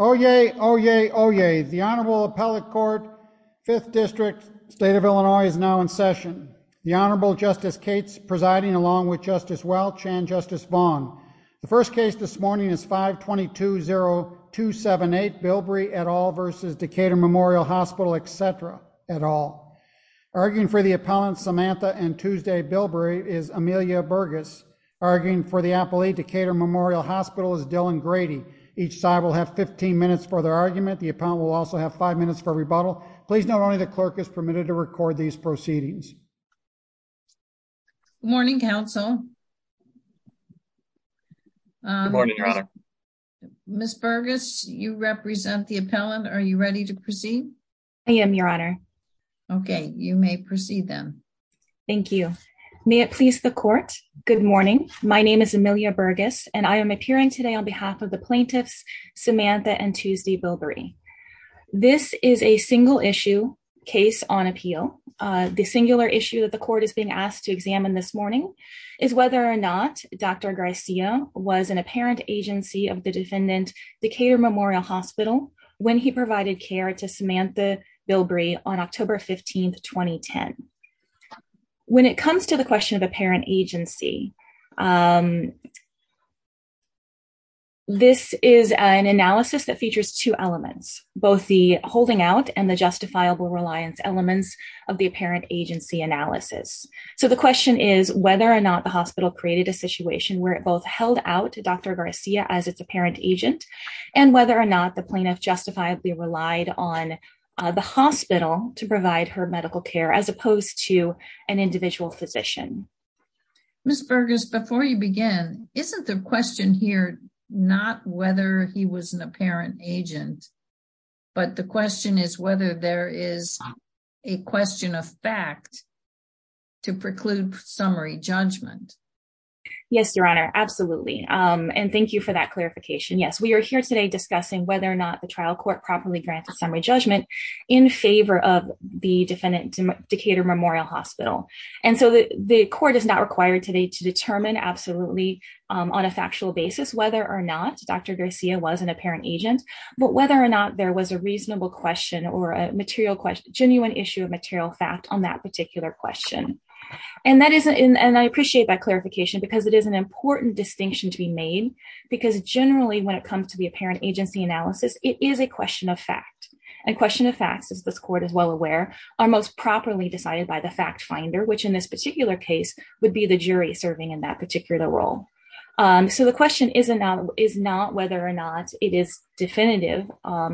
Oyez, oyez, oyez. The Honorable Appellate Court, 5th District, State of Illinois is now in session. The Honorable Justice Cates presiding along with Justice Welch and Justice Vaughn. The first case this morning is 522-0278, Bilbrey et al. v. Decatur Memorial Hospital, etc. et al. Arguing for the appellant Samantha and Tuesday Bilbrey is Amelia Burgess. Arguing for the the appellant will also have five minutes for rebuttal. Please note only the clerk is permitted to record these proceedings. Good morning, counsel. Good morning, Your Honor. Ms. Burgess, you represent the appellant. Are you ready to proceed? I am, Your Honor. Okay, you may proceed then. Thank you. May it please the court. Good morning. My name is Amelia Burgess and I am the appellant for Samantha and Tuesday Bilbrey. This is a single-issue case on appeal. The singular issue that the court is being asked to examine this morning is whether or not Dr. Garcia was an apparent agency of the defendant, Decatur Memorial Hospital, when he provided care to Samantha Bilbrey on October 15, 2010. When it comes to the question of apparent agency, this is an analysis that features two elements, both the holding out and the justifiable reliance elements of the apparent agency analysis. So the question is whether or not the hospital created a situation where it both held out to Dr. Garcia as its apparent agent and whether or not the plaintiff justifiably relied on the hospital to provide her medical care as opposed to an Before you begin, isn't the question here not whether he was an apparent agent, but the question is whether there is a question of fact to preclude summary judgment? Yes, Your Honor, absolutely. And thank you for that clarification. Yes, we are here today discussing whether or not the trial court properly granted summary judgment in favor of the defendant Decatur Memorial Hospital. And so the court is not required today to determine absolutely on a factual basis, whether or not Dr. Garcia was an apparent agent, but whether or not there was a reasonable question or a material question, genuine issue of material fact on that particular question. And I appreciate that clarification because it is an important distinction to be made because generally when it comes to the apparent agency analysis, it is a question of fact. And question of facts, as this court is well aware, are most properly decided by the fact finder, which in this particular case would be the jury serving in that particular role. So the question is not whether or not it is definitive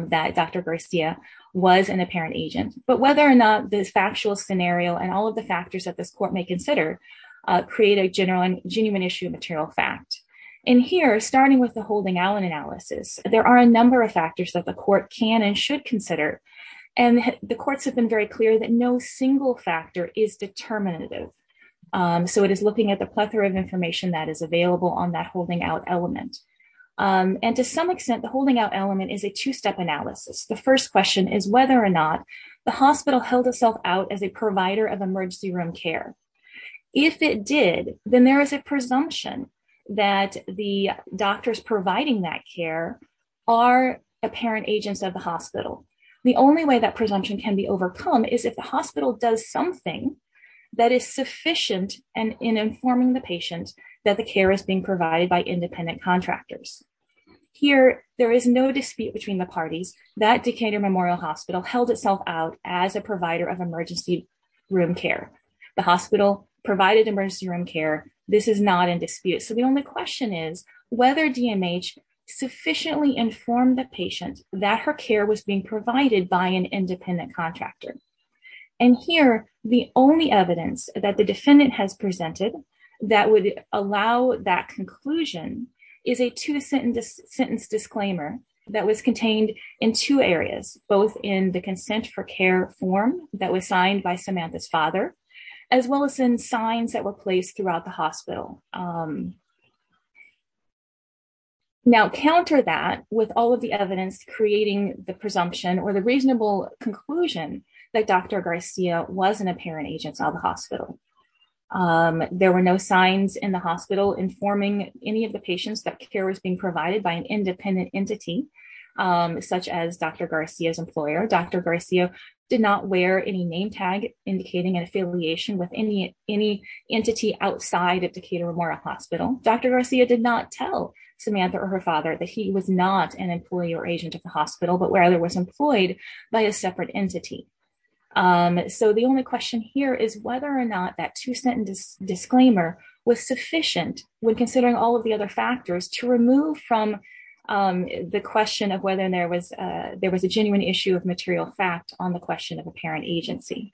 that Dr. Garcia was an apparent agent, but whether or not this factual scenario and all of the factors that this court may consider create a general and genuine issue of material fact. And here, starting with the holding Allen analysis, there are a number of factors that the court can and should consider. And the courts have been very clear that no single factor is determinative. So it is looking at the plethora of information that is available on that holding out element. And to some extent, the holding out element is a two-step analysis. The first question is whether or not the hospital held itself out as a provider of emergency room care. If it did, then there is a presumption that the doctors providing that care are apparent agents of the hospital. The only way that presumption can be overcome is if the hospital does something that is sufficient in informing the patient that the care is being provided by independent contractors. Here, there is no dispute between the parties that Decatur Memorial Hospital held itself out as a provider of emergency room care. This is not in dispute. So the only question is whether DMH sufficiently informed the patient that her care was being provided by an independent contractor. And here, the only evidence that the defendant has presented that would allow that conclusion is a two-sentence disclaimer that was contained in two areas, both in the consent for care form that was signed by the hospital. Now, counter that with all of the evidence creating the presumption or the reasonable conclusion that Dr. Garcia was an apparent agent of the hospital. There were no signs in the hospital informing any of the patients that care was being provided by an independent entity such as Dr. Garcia's employer. Dr. Garcia did not wear any name tag indicating an affiliation with any entity outside of Decatur Memorial Hospital. Dr. Garcia did not tell Samantha or her father that he was not an employee or agent of the hospital, but rather was employed by a separate entity. So the only question here is whether or not that two-sentence disclaimer was sufficient when considering all of the other factors to remove from the question of whether there was genuine issue of material fact on the question of apparent agency.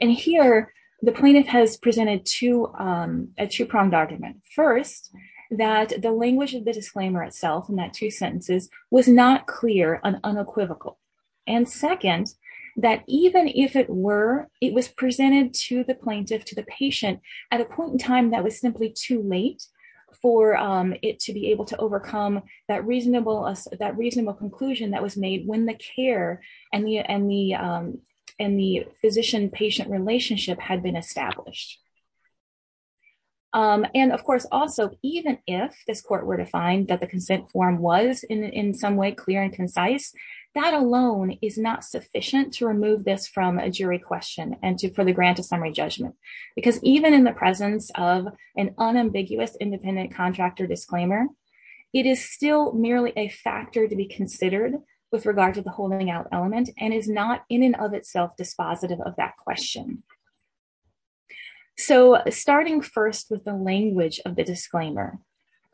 And here, the plaintiff has presented a two-pronged argument. First, that the language of the disclaimer itself in that two sentences was not clear and unequivocal. And second, that even if it were, it was presented to the plaintiff, to the patient, at a point in time that was simply too late for it to be able to overcome that reasonable conclusion that was made when the care and the physician-patient relationship had been established. And of course, also, even if this court were to find that the consent form was in some way clear and concise, that alone is not sufficient to remove this from a jury question and for the grant of summary judgment. Because even in the presence of an unambiguous independent contractor disclaimer, it is still merely a factor to be considered with regard to the holding out element and is not in and of itself dispositive of that question. So starting first with the language of the disclaimer,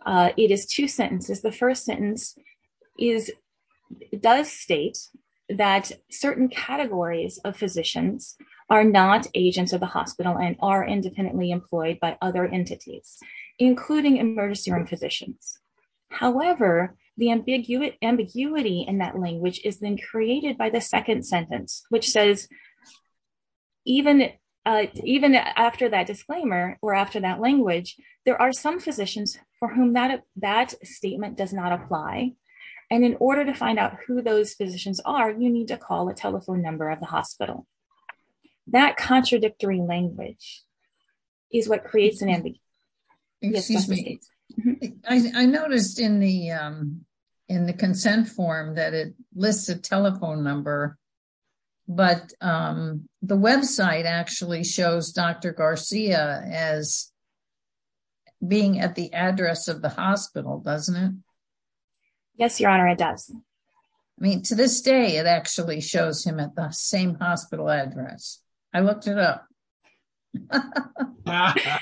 it is two sentences. The first sentence does state that certain categories of physicians are not agents of the hospital and are not personally employed by other entities, including emergency room physicians. However, the ambiguity in that language is then created by the second sentence, which says, even after that disclaimer or after that language, there are some physicians for whom that statement does not apply. And in order to find out who those physicians are, you need to call a telephone number of the hospital. That contradictory language is what creates an ambiguity. I noticed in the consent form that it lists a telephone number, but the website actually shows Dr. Garcia as being at the address of the hospital, doesn't it? Yes, Your Honor, it does. I mean, to this day, it actually shows him at the same hospital address. I looked it up. That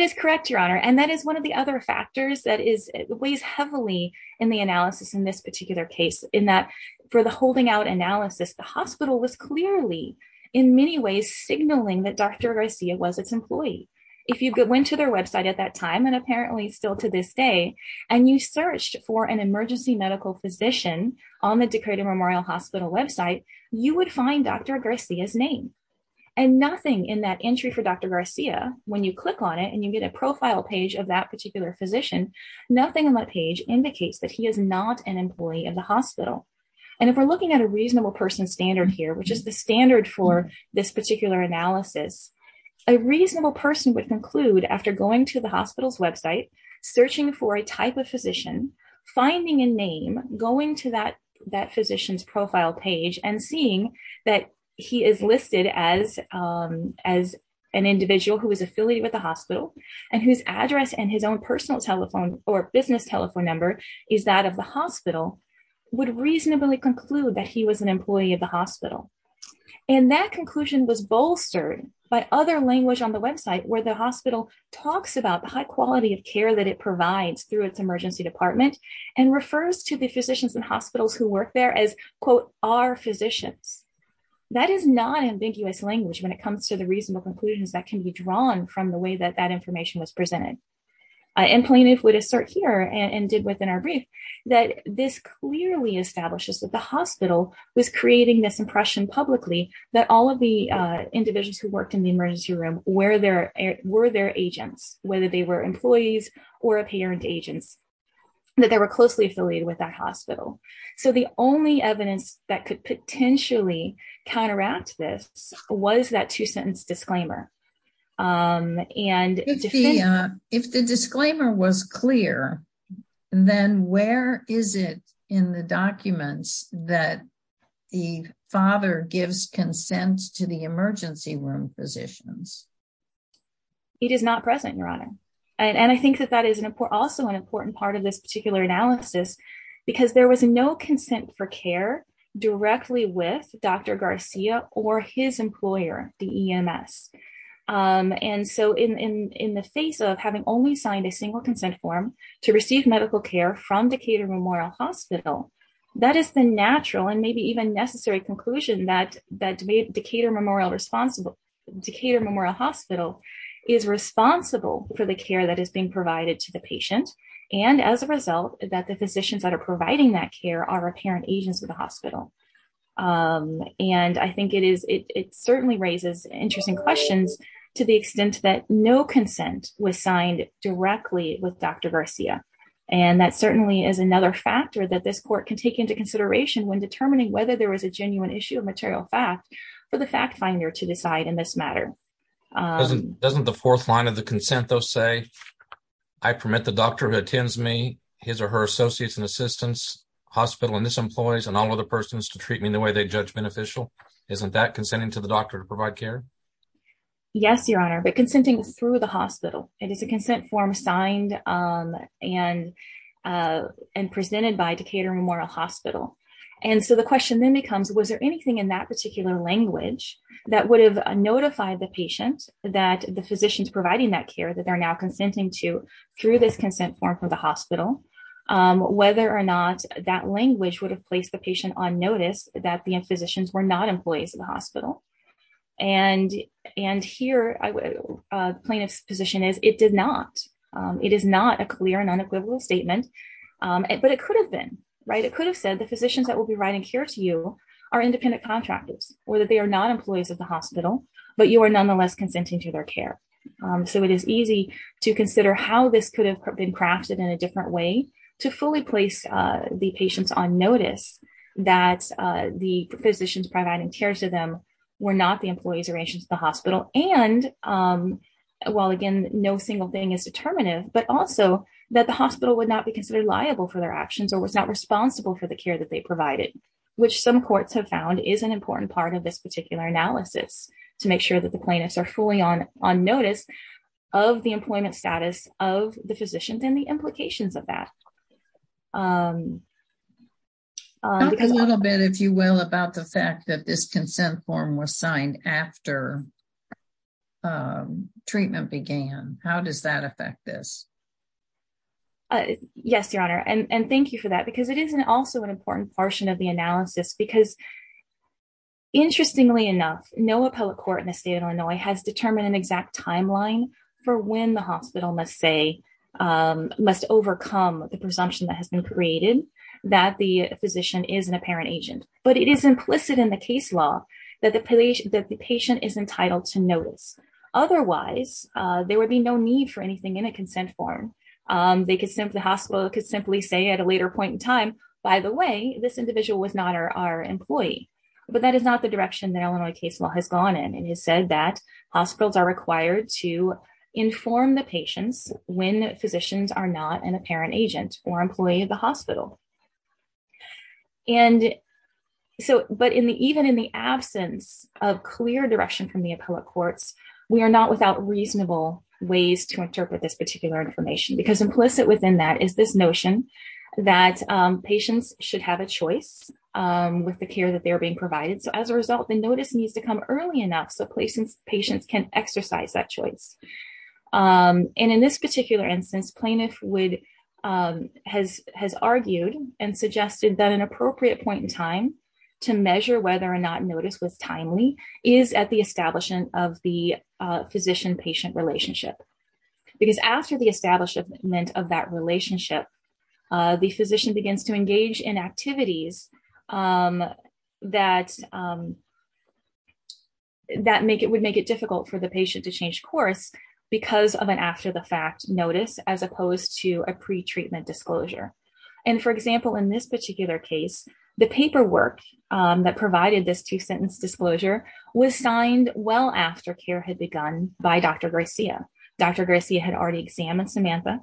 is correct, Your Honor. And that is one of the other factors that weighs heavily in the analysis in this particular case, in that for the holding out analysis, the hospital was clearly in many ways signaling that Dr. Garcia was its employee. If you went to their website at that time, and apparently still to this day, and you searched for an emergency medical physician on the Decatur Memorial Hospital website, you would find Dr. Garcia's name. And nothing in that entry for Dr. Garcia, when you click on it and you get a profile page of that particular physician, nothing on that page indicates that he is not an employee of the hospital. And if we're looking at a reasonable person standard here, which is the standard for this particular analysis, a reasonable person would conclude after going to the hospital's website, searching for a type of physician, finding a name, going to that physician's profile page, and seeing that he is listed as an individual who is affiliated with the hospital, and whose address and his own personal telephone or business telephone number is that of the was bolstered by other language on the website where the hospital talks about the high quality of care that it provides through its emergency department, and refers to the physicians and hospitals who work there as, quote, our physicians. That is not ambiguous language when it comes to the reasonable conclusions that can be drawn from the way that that information was presented. And Polina would assert here, and did within our brief, that this clearly establishes that hospital was creating this impression publicly that all of the individuals who worked in the emergency room were their agents, whether they were employees or apparent agents, that they were closely affiliated with that hospital. So the only evidence that could potentially counteract this was that two-sentence disclaimer. And if the disclaimer was clear, then where is it in the documents that the father gives consent to the emergency room physicians? It is not present, Your Honor. And I think that that is also an important part of this particular analysis, because there was no consent for care directly with Dr. Garcia or his employer, the EMS. And so in the face of having only signed a single consent form to receive medical care from Decatur Memorial Hospital, that is the natural and maybe even necessary conclusion that Decatur Memorial Hospital is responsible for the care that is being provided to the patient, and as a result, that the physicians that are providing that care are apparent agents of the to the extent that no consent was signed directly with Dr. Garcia. And that certainly is another factor that this court can take into consideration when determining whether there was a genuine issue of material fact for the fact finder to decide in this matter. Doesn't the fourth line of the consent, though, say, I permit the doctor who attends me, his or her associates and assistants, hospital and its employees, and all other persons to treat me in the way they judge beneficial? Isn't that consenting to the doctor to provide care? Yes, Your Honor, but consenting through the hospital, it is a consent form signed and presented by Decatur Memorial Hospital. And so the question then becomes, was there anything in that particular language that would have notified the patient that the physicians providing that care that they're now consenting to through this consent form from the hospital, whether or that language would have placed the patient on notice that the physicians were not employees of the hospital. And here plaintiff's position is it did not. It is not a clear and unequivocal statement, but it could have been, right? It could have said the physicians that will be writing care to you are independent contractors or that they are not employees of the hospital, but you are nonetheless consenting to their care. So it is easy to consider how this could have been crafted in a different way to fully place the patients on notice that the physicians providing care to them were not the employees or agents of the hospital. And while again, no single thing is determinative, but also that the hospital would not be considered liable for their actions or was not responsible for the care that they provided, which some courts have found is an important part of this particular analysis to make sure that the plaintiffs are fully on notice of the employment status of the physicians and the implications of that. A little bit, if you will, about the fact that this consent form was signed after treatment began. How does that affect this? Yes, Your Honor. And thank you for that because it is also an important portion of the analysis because interestingly enough, no appellate court in the state of Illinois has determined an exact timeline for when the hospital must overcome the presumption that has been created that the physician is an apparent agent. But it is implicit in the case law that the patient is entitled to notice. Otherwise, there would be no need for anything in a consent form. The hospital could simply say at a later point in time, by the way, this individual was not our employee. But that is the direction that Illinois case law has gone in and has said that hospitals are required to inform the patients when physicians are not an apparent agent or employee of the hospital. But even in the absence of clear direction from the appellate courts, we are not without reasonable ways to interpret this particular information because implicit within that is this notion that patients should have a choice with the care that they're being provided. So as a result, the notice needs to come early enough so patients can exercise that choice. And in this particular instance, plaintiff has argued and suggested that an appropriate point in time to measure whether or not notice was timely is at the establishment of the physician-patient relationship. Because after the establishment of that relationship, the physician begins to engage in activities that would make it difficult for the patient to change course because of an after-the-fact notice as opposed to a pretreatment disclosure. And for example, in this particular case, the paperwork that provided this two-sentence disclosure was signed well after care had begun by Dr. Garcia. Dr. Garcia had already examined that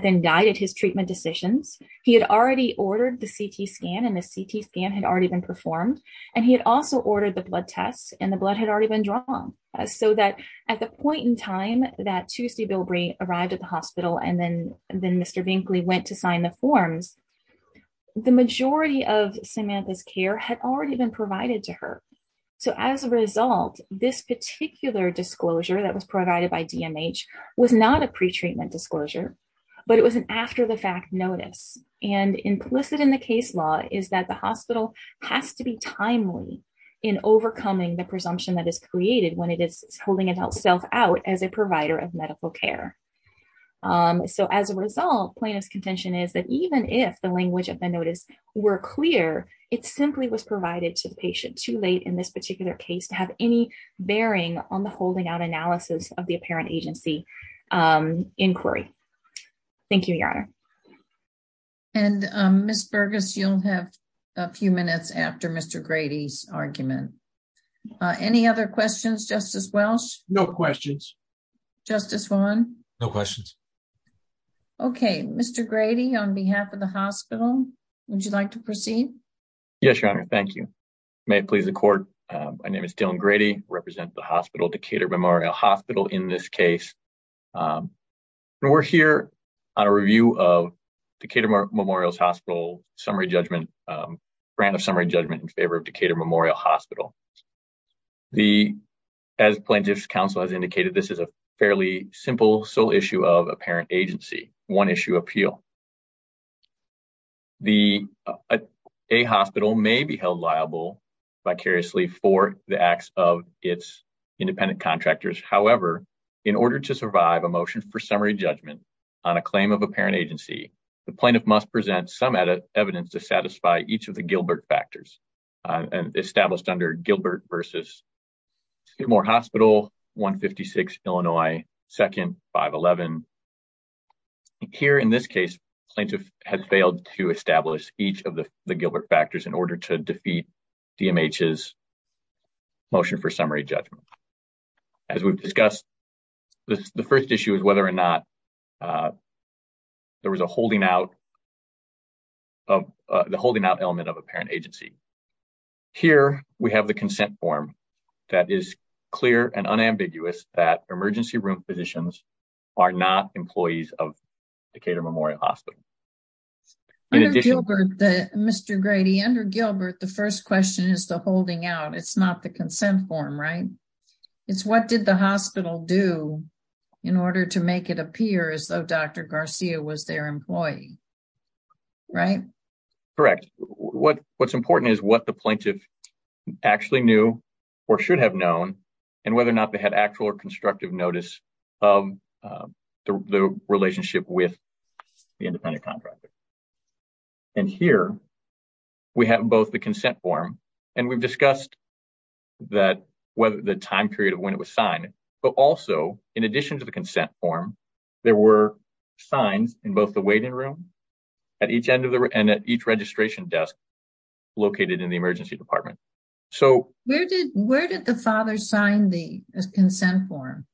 then guided his treatment decisions. He had already ordered the CT scan and the CT scan had already been performed. And he had also ordered the blood tests and the blood had already been drawn. So that at the point in time that Tuesday Bilbrey arrived at the hospital and then Mr. Binkley went to sign the forms, the majority of Samantha's care had already been provided to her. So as a result, this particular disclosure that was provided by DMH was not a pretreatment disclosure, but it was an after-the-fact notice. And implicit in the case law is that the hospital has to be timely in overcoming the presumption that is created when it is holding itself out as a provider of medical care. So as a result, plaintiff's contention is that even if the language of the notice were clear, it simply was provided to the patient too late in this particular case to have any bearing on the holding out analysis of the agency inquiry. Thank you, Your Honor. And Ms. Burgess, you'll have a few minutes after Mr. Grady's argument. Any other questions, Justice Welsh? No questions. Justice Vaughn? No questions. Okay. Mr. Grady, on behalf of the hospital, would you like to proceed? Yes, Your Honor. Thank you. May it please the court. My name is Dylan Grady. I represent the hospital, Decatur Memorial Hospital, in this case. We're here on a review of Decatur Memorial Hospital's brand of summary judgment in favor of Decatur Memorial Hospital. As plaintiff's counsel has indicated, this is a fairly simple, sole issue of apparent agency, one-issue appeal. A hospital may be held liable vicariously for the acts of its independent contractors. However, in order to survive a motion for summary judgment on a claim of apparent agency, the plaintiff must present some evidence to satisfy each of the Gilbert factors established under Gilbert v. Memorial Hospital, 156 Illinois, 2nd, 511. Here in this case, plaintiff has failed to establish each of the Gilbert factors in order to defeat DMH's motion for summary judgment. As we've discussed, the first issue is whether or not there was a holding out of the holding out element of apparent agency. Here, we have the consent form that is clear and unambiguous that emergency room physicians are not employees of Decatur Memorial Hospital. What did the hospital do in order to make it appear as though Dr. Garcia was their employee? Correct. What's important is what the plaintiff actually knew or should have known and whether or not they had actual or constructive notice of the relationship with the independent consent form. We've discussed the time period of when it was signed, but also, in addition to the consent form, there were signs in both the waiting room and at each registration desk located in the emergency department. Where did the father sign the consent form?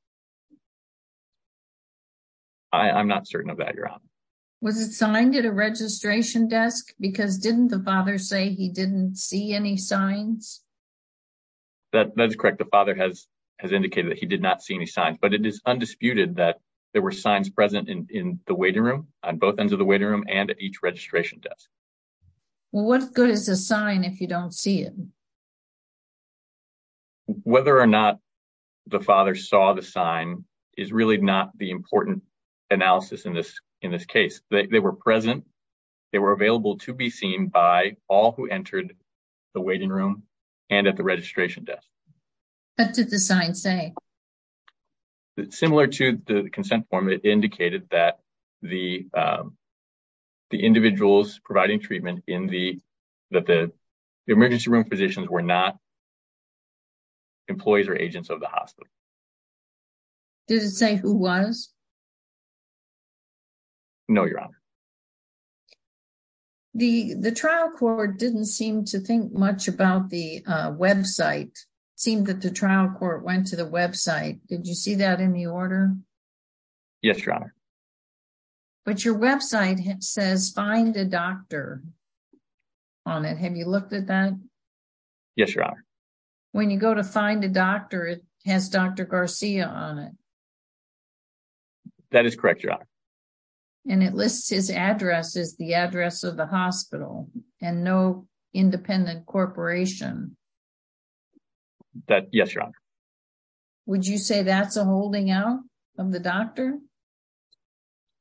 I'm not certain of that, Your Honor. Was it signed at a registration desk because didn't the father say he didn't see any signs? That is correct. The father has indicated that he did not see any signs, but it is undisputed that there were signs present in the waiting room on both ends of the waiting room and at each registration desk. What good is a sign if you don't see it? Whether or not the father saw the sign is really not the important analysis in this case. They were present. They were available to be seen by all who entered the waiting room and at the registration desk. What did the sign say? Similar to the consent form, it indicated that the individuals providing treatment in the emergency room physicians were not employees or agents of the hospital. Did it say who was? No, Your Honor. The trial court didn't seem to think much about the website. It seemed that the trial court went to the website. Did you see that in the order? Yes, Your Honor. But your website says find a doctor on it. Have you looked at that? Yes, Your Honor. When you go to find a doctor, it has Dr. Garcia on it. That is correct, Your Honor. And it lists his address as the address of the hospital and no independent corporation. Yes, Your Honor. Would you say that's a holding out of the doctor?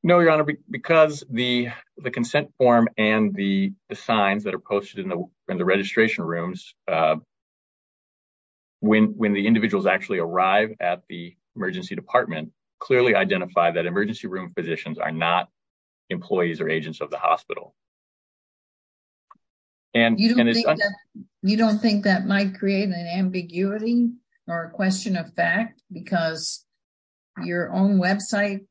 No, Your Honor. Because the consent form and the signs that are posted in the registration rooms, when the individuals actually arrive at the emergency department, clearly identify that emergency room physicians are not employees or agents of the hospital. You don't think that might create an ambiguity or a question of fact because your own website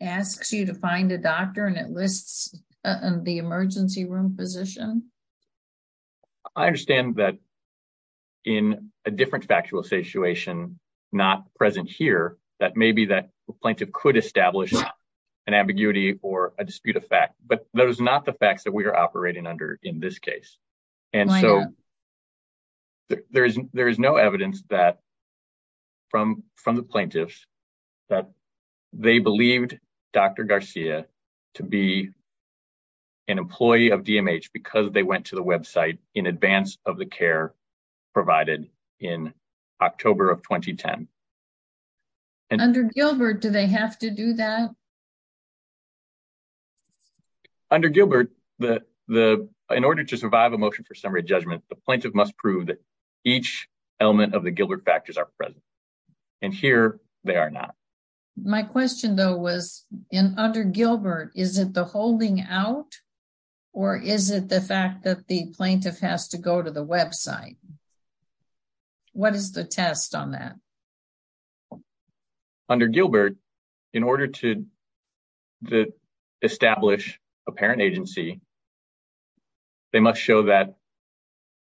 asks you to find a doctor and it lists the emergency room physician? I understand that in a different factual situation, not present here, that maybe that plaintiff could establish an ambiguity or a dispute of fact. But those are not the facts that we are operating under in this case. And so there is no evidence from the plaintiffs that they believed Dr. Garcia to be an employee of DMH because they went to the website in advance of the care provided in October of 2010. Under Gilbert, do they have to do that? Under Gilbert, in order to survive a motion for summary judgment, the plaintiff must prove that each element of the Gilbert factors are present. And here, they are not. My question though was, under Gilbert, is it the holding out or is it the fact that the plaintiff has to go to the website? What is the test on that? Under Gilbert, in order to establish a parent agency, they must show that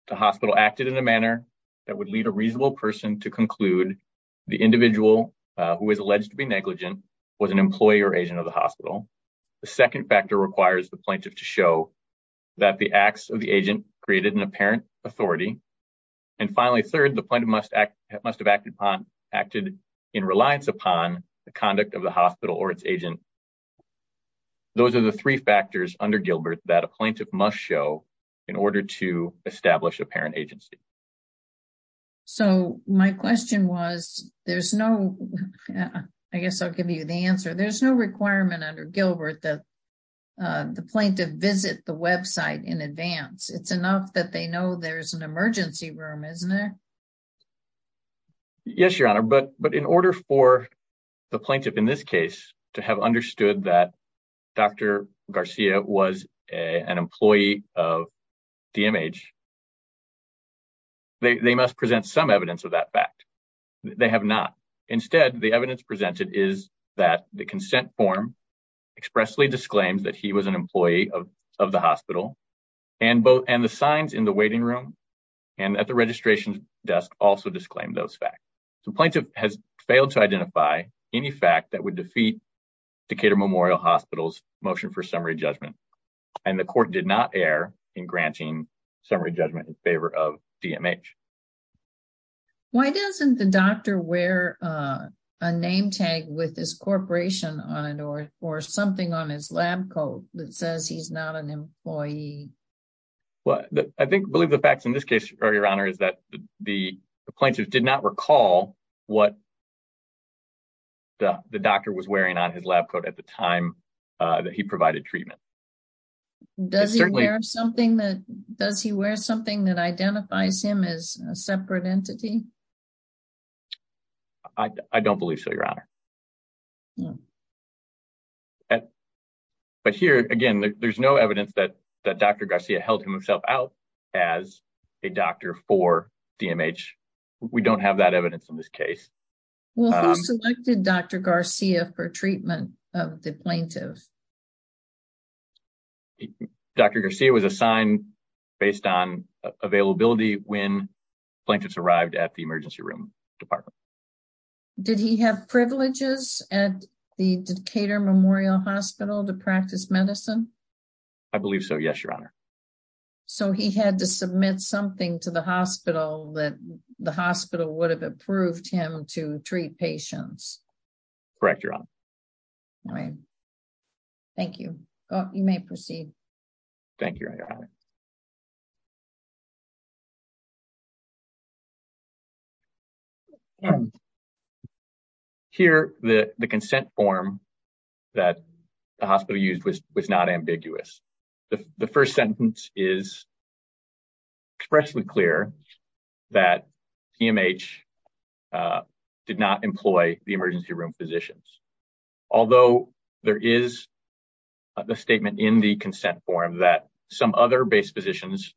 the hospital acted in a manner that would lead a reasonable person to conclude the individual who is alleged to be negligent was an employee or agent of the hospital. The second factor requires the plaintiff to show that the acts of the agent created an apparent authority. And finally, third, the plaintiff must have acted in reliance upon the conduct of the hospital or its agent. Those are the three factors under Gilbert that a plaintiff must show in order to establish a parent agency. So my question was, there's no, I guess I'll give you the answer. There's no requirement under Gilbert that the plaintiff visit the website in advance. It's enough that they know there's an emergency room, isn't it? Yes, Your Honor. But in order for the plaintiff in this case to have understood that Dr. Garcia was an employee of DMH, they must present some evidence of that fact. They have not. Instead, the evidence presented is that the consent form expressly disclaims that he was an employee of the hospital and the signs in the waiting room and at the registration desk also disclaim those facts. The plaintiff has failed to identify any fact that would defeat Decatur Memorial Hospital's motion for summary judgment. And the court did not err in granting summary judgment in favor of DMH. Why doesn't the doctor wear a name tag with his corporation on it or something on his lab coat that says he's not an employee? Well, I believe the facts in this case, Your Honor, is that the plaintiff did not recall what the doctor was wearing on his lab coat at the time that he provided treatment. Does he wear something that identifies him as a separate entity? I don't believe so, Your Honor. But here, again, there's no evidence that Dr. Garcia held himself out as a doctor for DMH. We don't have that evidence in this case. Well, who selected Dr. Garcia for treatment of the plaintiff? Dr. Garcia was assigned based on availability when plaintiffs arrived at the emergency room department. Did he have privileges at the Decatur Memorial Hospital to practice medicine? I believe so, yes, Your Honor. So he had to submit something to the hospital that the hospital would have approved him to treat patients? Correct, Your Honor. All right. Thank you. You may proceed. Thank you, Your Honor. All right. Here, the consent form that the hospital used was not ambiguous. The first sentence is expressly clear that DMH did not employ the emergency room physicians. Although there is a statement in the consent form that some other base physicians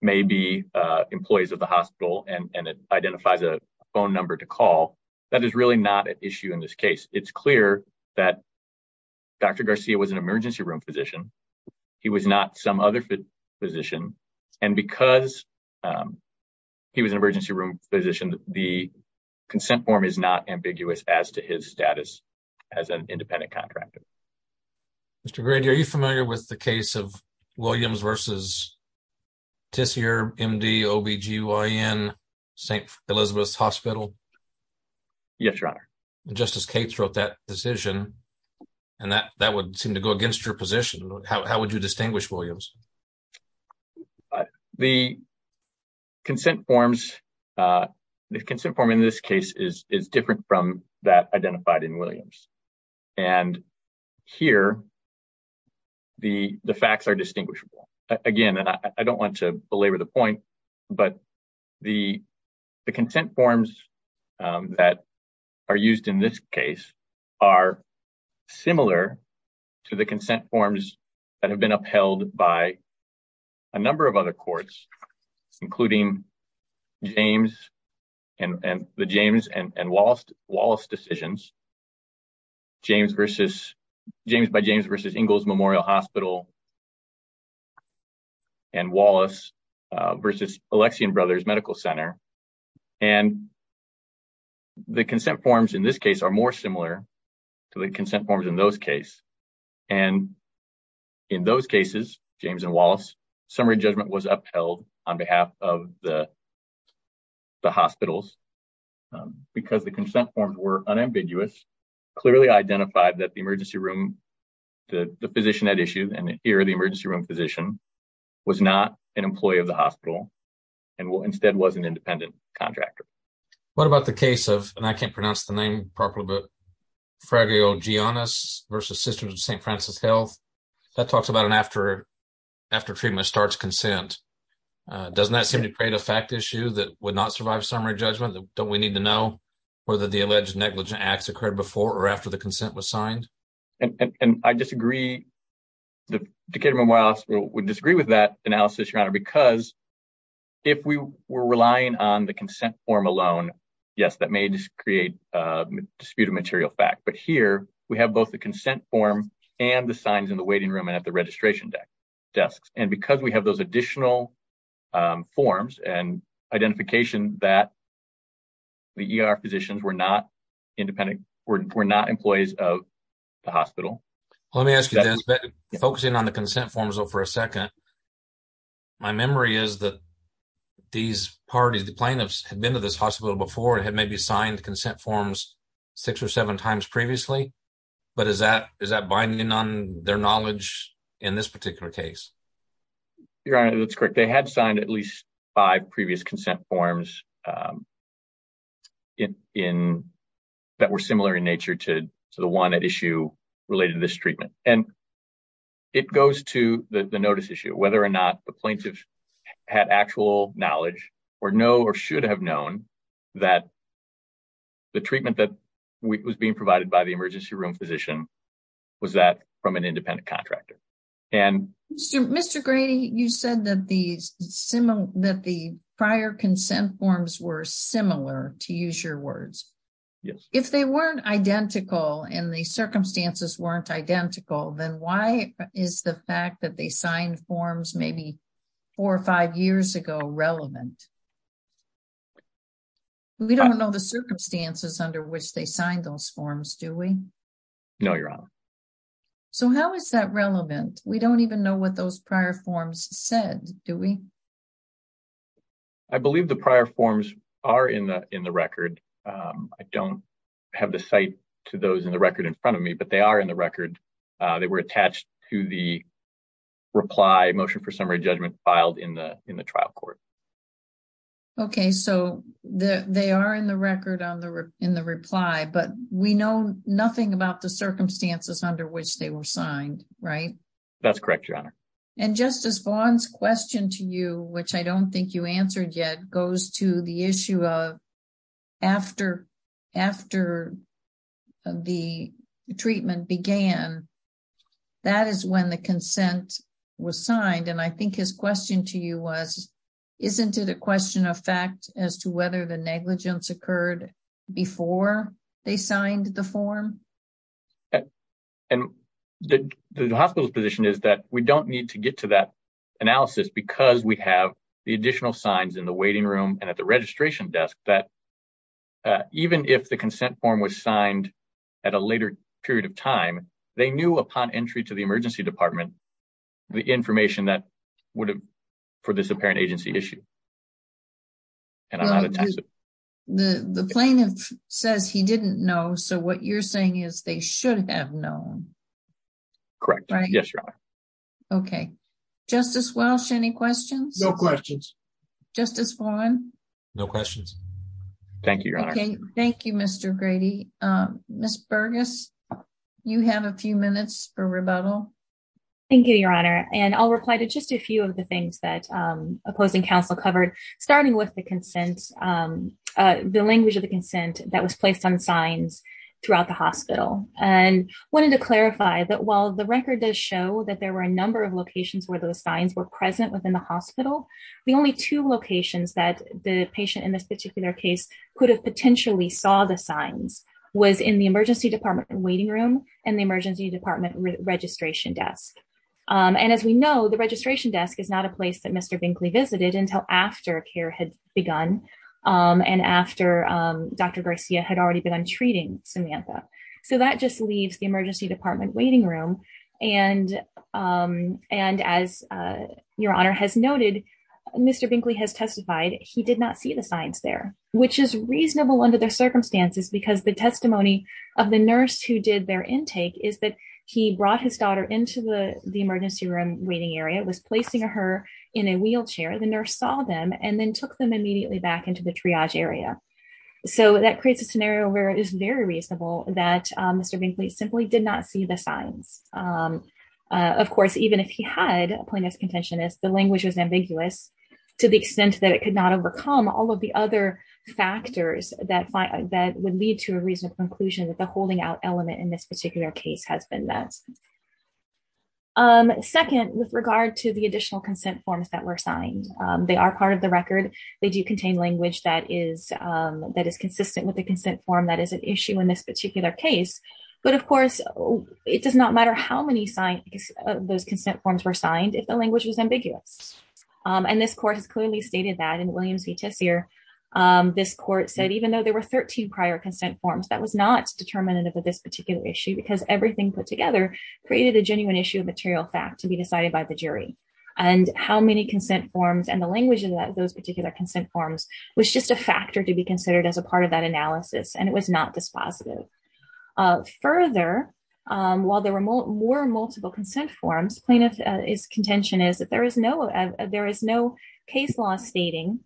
may be employees of the hospital and it identifies a phone number to call, that is really not an issue in this case. It's clear that Dr. Garcia was an emergency room physician. He was not some other physician. And because he was an emergency room physician, the consent form is not ambiguous as to his status as an independent contractor. Mr. Grady, are you familiar with the case of Williams versus Tisier MD OBGYN St. Elizabeth's Hospital? Yes, Your Honor. Justice Cates wrote that decision and that would seem to go against your position. How would you distinguish Williams? The consent forms, the consent form in this case is different from that identified in Williams. And here, the facts are distinguishable. Again, and I don't want to belabor the point, but the consent forms that are used in this case are similar to the consent forms that have been upheld by a number of other courts, including the James and Wallace decisions, James by James versus Ingalls Memorial Hospital and Wallace versus Alexian Brothers Medical Center. And the consent forms in this case are more similar to the consent forms in those case. And in those cases, James and Wallace summary judgment was upheld on behalf of the hospitals because the consent forms were unambiguous, clearly identified that the emergency room, the physician at issue and here the emergency room physician was not an employee of the hospital and instead was an independent contractor. What about the case of, and I can't pronounce the name properly, but Fraglio Giannis versus Sisters of St. Francis Health that talks about an after treatment starts consent. Doesn't that seem to create a fact issue that would not survive summary judgment? Don't we need to know whether the alleged negligent acts occurred before or after the consent was signed? And I disagree. The Decatur Memorial Hospital would disagree with that because if we were relying on the consent form alone, yes, that may just create a disputed material fact. But here we have both the consent form and the signs in the waiting room and at the registration deck desks. And because we have those additional forms and identification that the ER physicians were not independent, we're not employees of the hospital. Let me ask you this, but focusing on the consent forms for a second, my memory is that these parties, the plaintiffs had been to this hospital before and had maybe signed consent forms six or seven times previously. But is that, is that binding on their knowledge in this particular case? Your Honor, that's correct. They had signed at least five previous consent forms that were similar in nature to the one at issue related to this treatment. And it goes to the notice issue, whether or not the plaintiff had actual knowledge or know or should have known that the treatment that was being provided by the emergency room was that from an independent contractor. Mr. Grady, you said that the prior consent forms were similar, to use your words. Yes. If they weren't identical and the circumstances weren't identical, then why is the fact that they signed forms maybe four or five years ago relevant? We don't know the circumstances under which they signed those forms, do we? No, Your Honor. So how is that relevant? We don't even know what those prior forms said, do we? I believe the prior forms are in the, in the record. I don't have the site to those in the record in front of me, but they are in the record. They were attached to the reply motion for summary judgment filed in the, in the trial court. Okay. So the, they are in the record on the, in the reply, but we know nothing about the circumstances under which they were signed, right? That's correct, Your Honor. And Justice Vaughn's question to you, which I don't think you answered yet, goes to the issue of after, after the treatment began, that is when the consent was signed. And I think his question to you was, isn't it a question of fact as to whether the they signed the form? And the, the hospital's position is that we don't need to get to that analysis because we have the additional signs in the waiting room and at the registration desk that even if the consent form was signed at a later period of time, they knew upon entry to the emergency department, the information that would have for this apparent agency issue. And the plaintiff says he didn't know. So what you're saying is they should have known. Correct. Yes, Your Honor. Okay. Justice Walsh, any questions? No questions. Justice Vaughn? No questions. Thank you, Your Honor. Thank you, Mr. Grady. Ms. Burgess, you have a few minutes for rebuttal. Thank you, Your Honor. And I'll reply to just a few of the things that opposing counsel covered, starting with the consent, the language of the consent that was placed on signs throughout the hospital. And I wanted to clarify that while the record does show that there were a number of locations where those signs were present within the hospital, the only two locations that the patient in this particular case could have potentially saw the signs was in the emergency department waiting room and the emergency department registration desk. And as we know, the registration desk is not a place that Mr. Binkley visited until after care had begun and after Dr. Garcia had already begun treating Samantha. So that just leaves the emergency department waiting room. And as Your Honor has noted, Mr. Binkley has testified he did not see the signs there, which is reasonable under the circumstances because the testimony of the nurse who did their intake is that he brought his daughter into the emergency room waiting area, was placing her in a wheelchair. The nurse saw them and then took them immediately back into the triage area. So that creates a scenario where it is very reasonable that Mr. Binkley simply did not see the signs. Of course, even if he had, plain as contention is, the language was ambiguous to the extent that it could not overcome all of the other factors that would lead to a reasonable conclusion that the holding out element in this particular case has been met. Second, with regard to the additional consent forms that were signed, they are part of the record. They do contain language that is consistent with the consent form that is an issue in this particular case. But of course, it does not matter how many those consent forms were signed if the language was ambiguous. And this court has clearly stated that in Williams v. Tessier, this court said even though there were 13 prior consent forms, that was not determinative of this particular issue because everything put together created a genuine issue of material fact to be decided by the jury. And how many consent forms and the language in those particular consent forms was just a factor to be considered as a part of that analysis, and it was not dispositive. Further, while there were more multiple consent forms, his contention is that there is no case law stating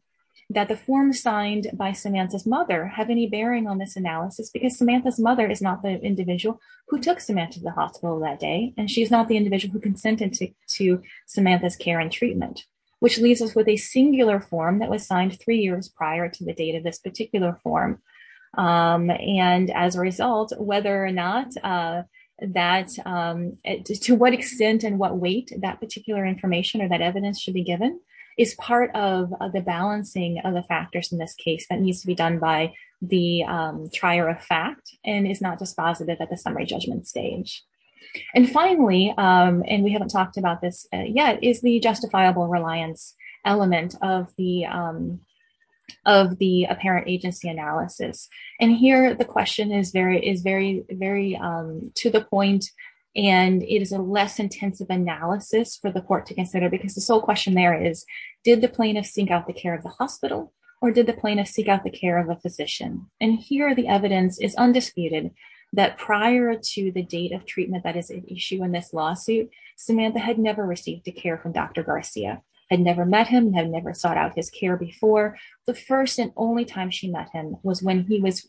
that the forms signed by Samantha's mother have any bearing on this analysis because Samantha's mother is not the individual who took Samantha to the hospital that day, and she's not the individual who consented to Samantha's care and treatment, which leaves us with a singular form that was signed three years prior to the this particular form. And as a result, whether or not that, to what extent and what weight that particular information or that evidence should be given is part of the balancing of the factors in this case that needs to be done by the trier of fact and is not dispositive at the summary judgment stage. And finally, and we haven't talked about this yet, is the justifiable reliance element of the apparent agency analysis. And here the question is very to the point, and it is a less intensive analysis for the court to consider because the sole question there is, did the plaintiff seek out the care of the hospital, or did the plaintiff seek out the care of a physician? And here the evidence is undisputed that prior to the date of treatment that is an issue in this lawsuit, Samantha had never received a care from Dr. Garcia, had never met him, had never sought out his care before. The first and only time she met him was when he was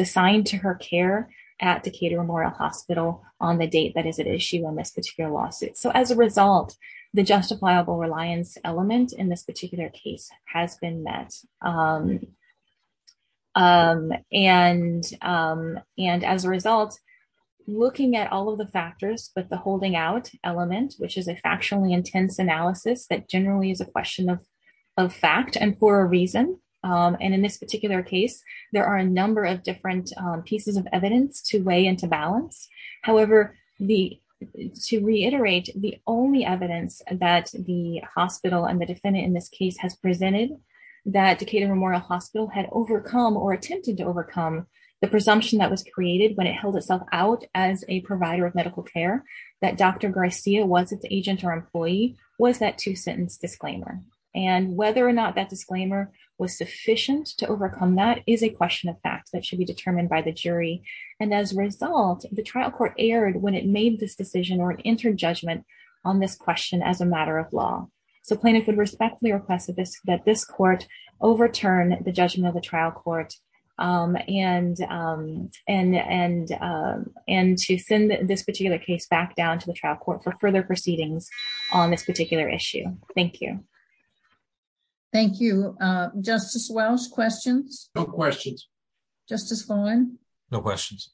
assigned to her care at Decatur Memorial Hospital on the date that is an issue in this particular lawsuit. So as a result, the justifiable reliance element in this particular case has been met. And as a result, looking at all of the factors, but the holding out element, which is a factually intense analysis that generally is a question of fact and for a reason. And in this particular case, there are a number of different pieces of evidence to weigh into balance. However, to reiterate, the only evidence that the hospital and the defendant in this case has presented that Decatur Memorial Hospital had overcome or attempted to overcome the presumption that was created when it held itself out as a provider of medical care, that Dr. Garcia was its agent or employee, was that two sentence disclaimer. And whether or not that disclaimer was sufficient to overcome that is a question of fact that should be determined by the jury. And as a result, the trial court erred when it made this decision or entered judgment on this question as a matter of law. So plaintiff would respectfully request that this court overturn the judgment of the trial court and to send this particular case back down to the trial court for further proceedings on this particular issue. Thank you. Thank you. Justice Welch, questions? No questions. Justice Follin? No questions.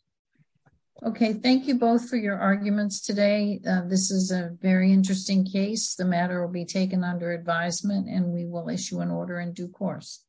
Okay. Thank you both for your arguments today. This is a very interesting case. The matter will be taken under advisement and we will issue an order in due course.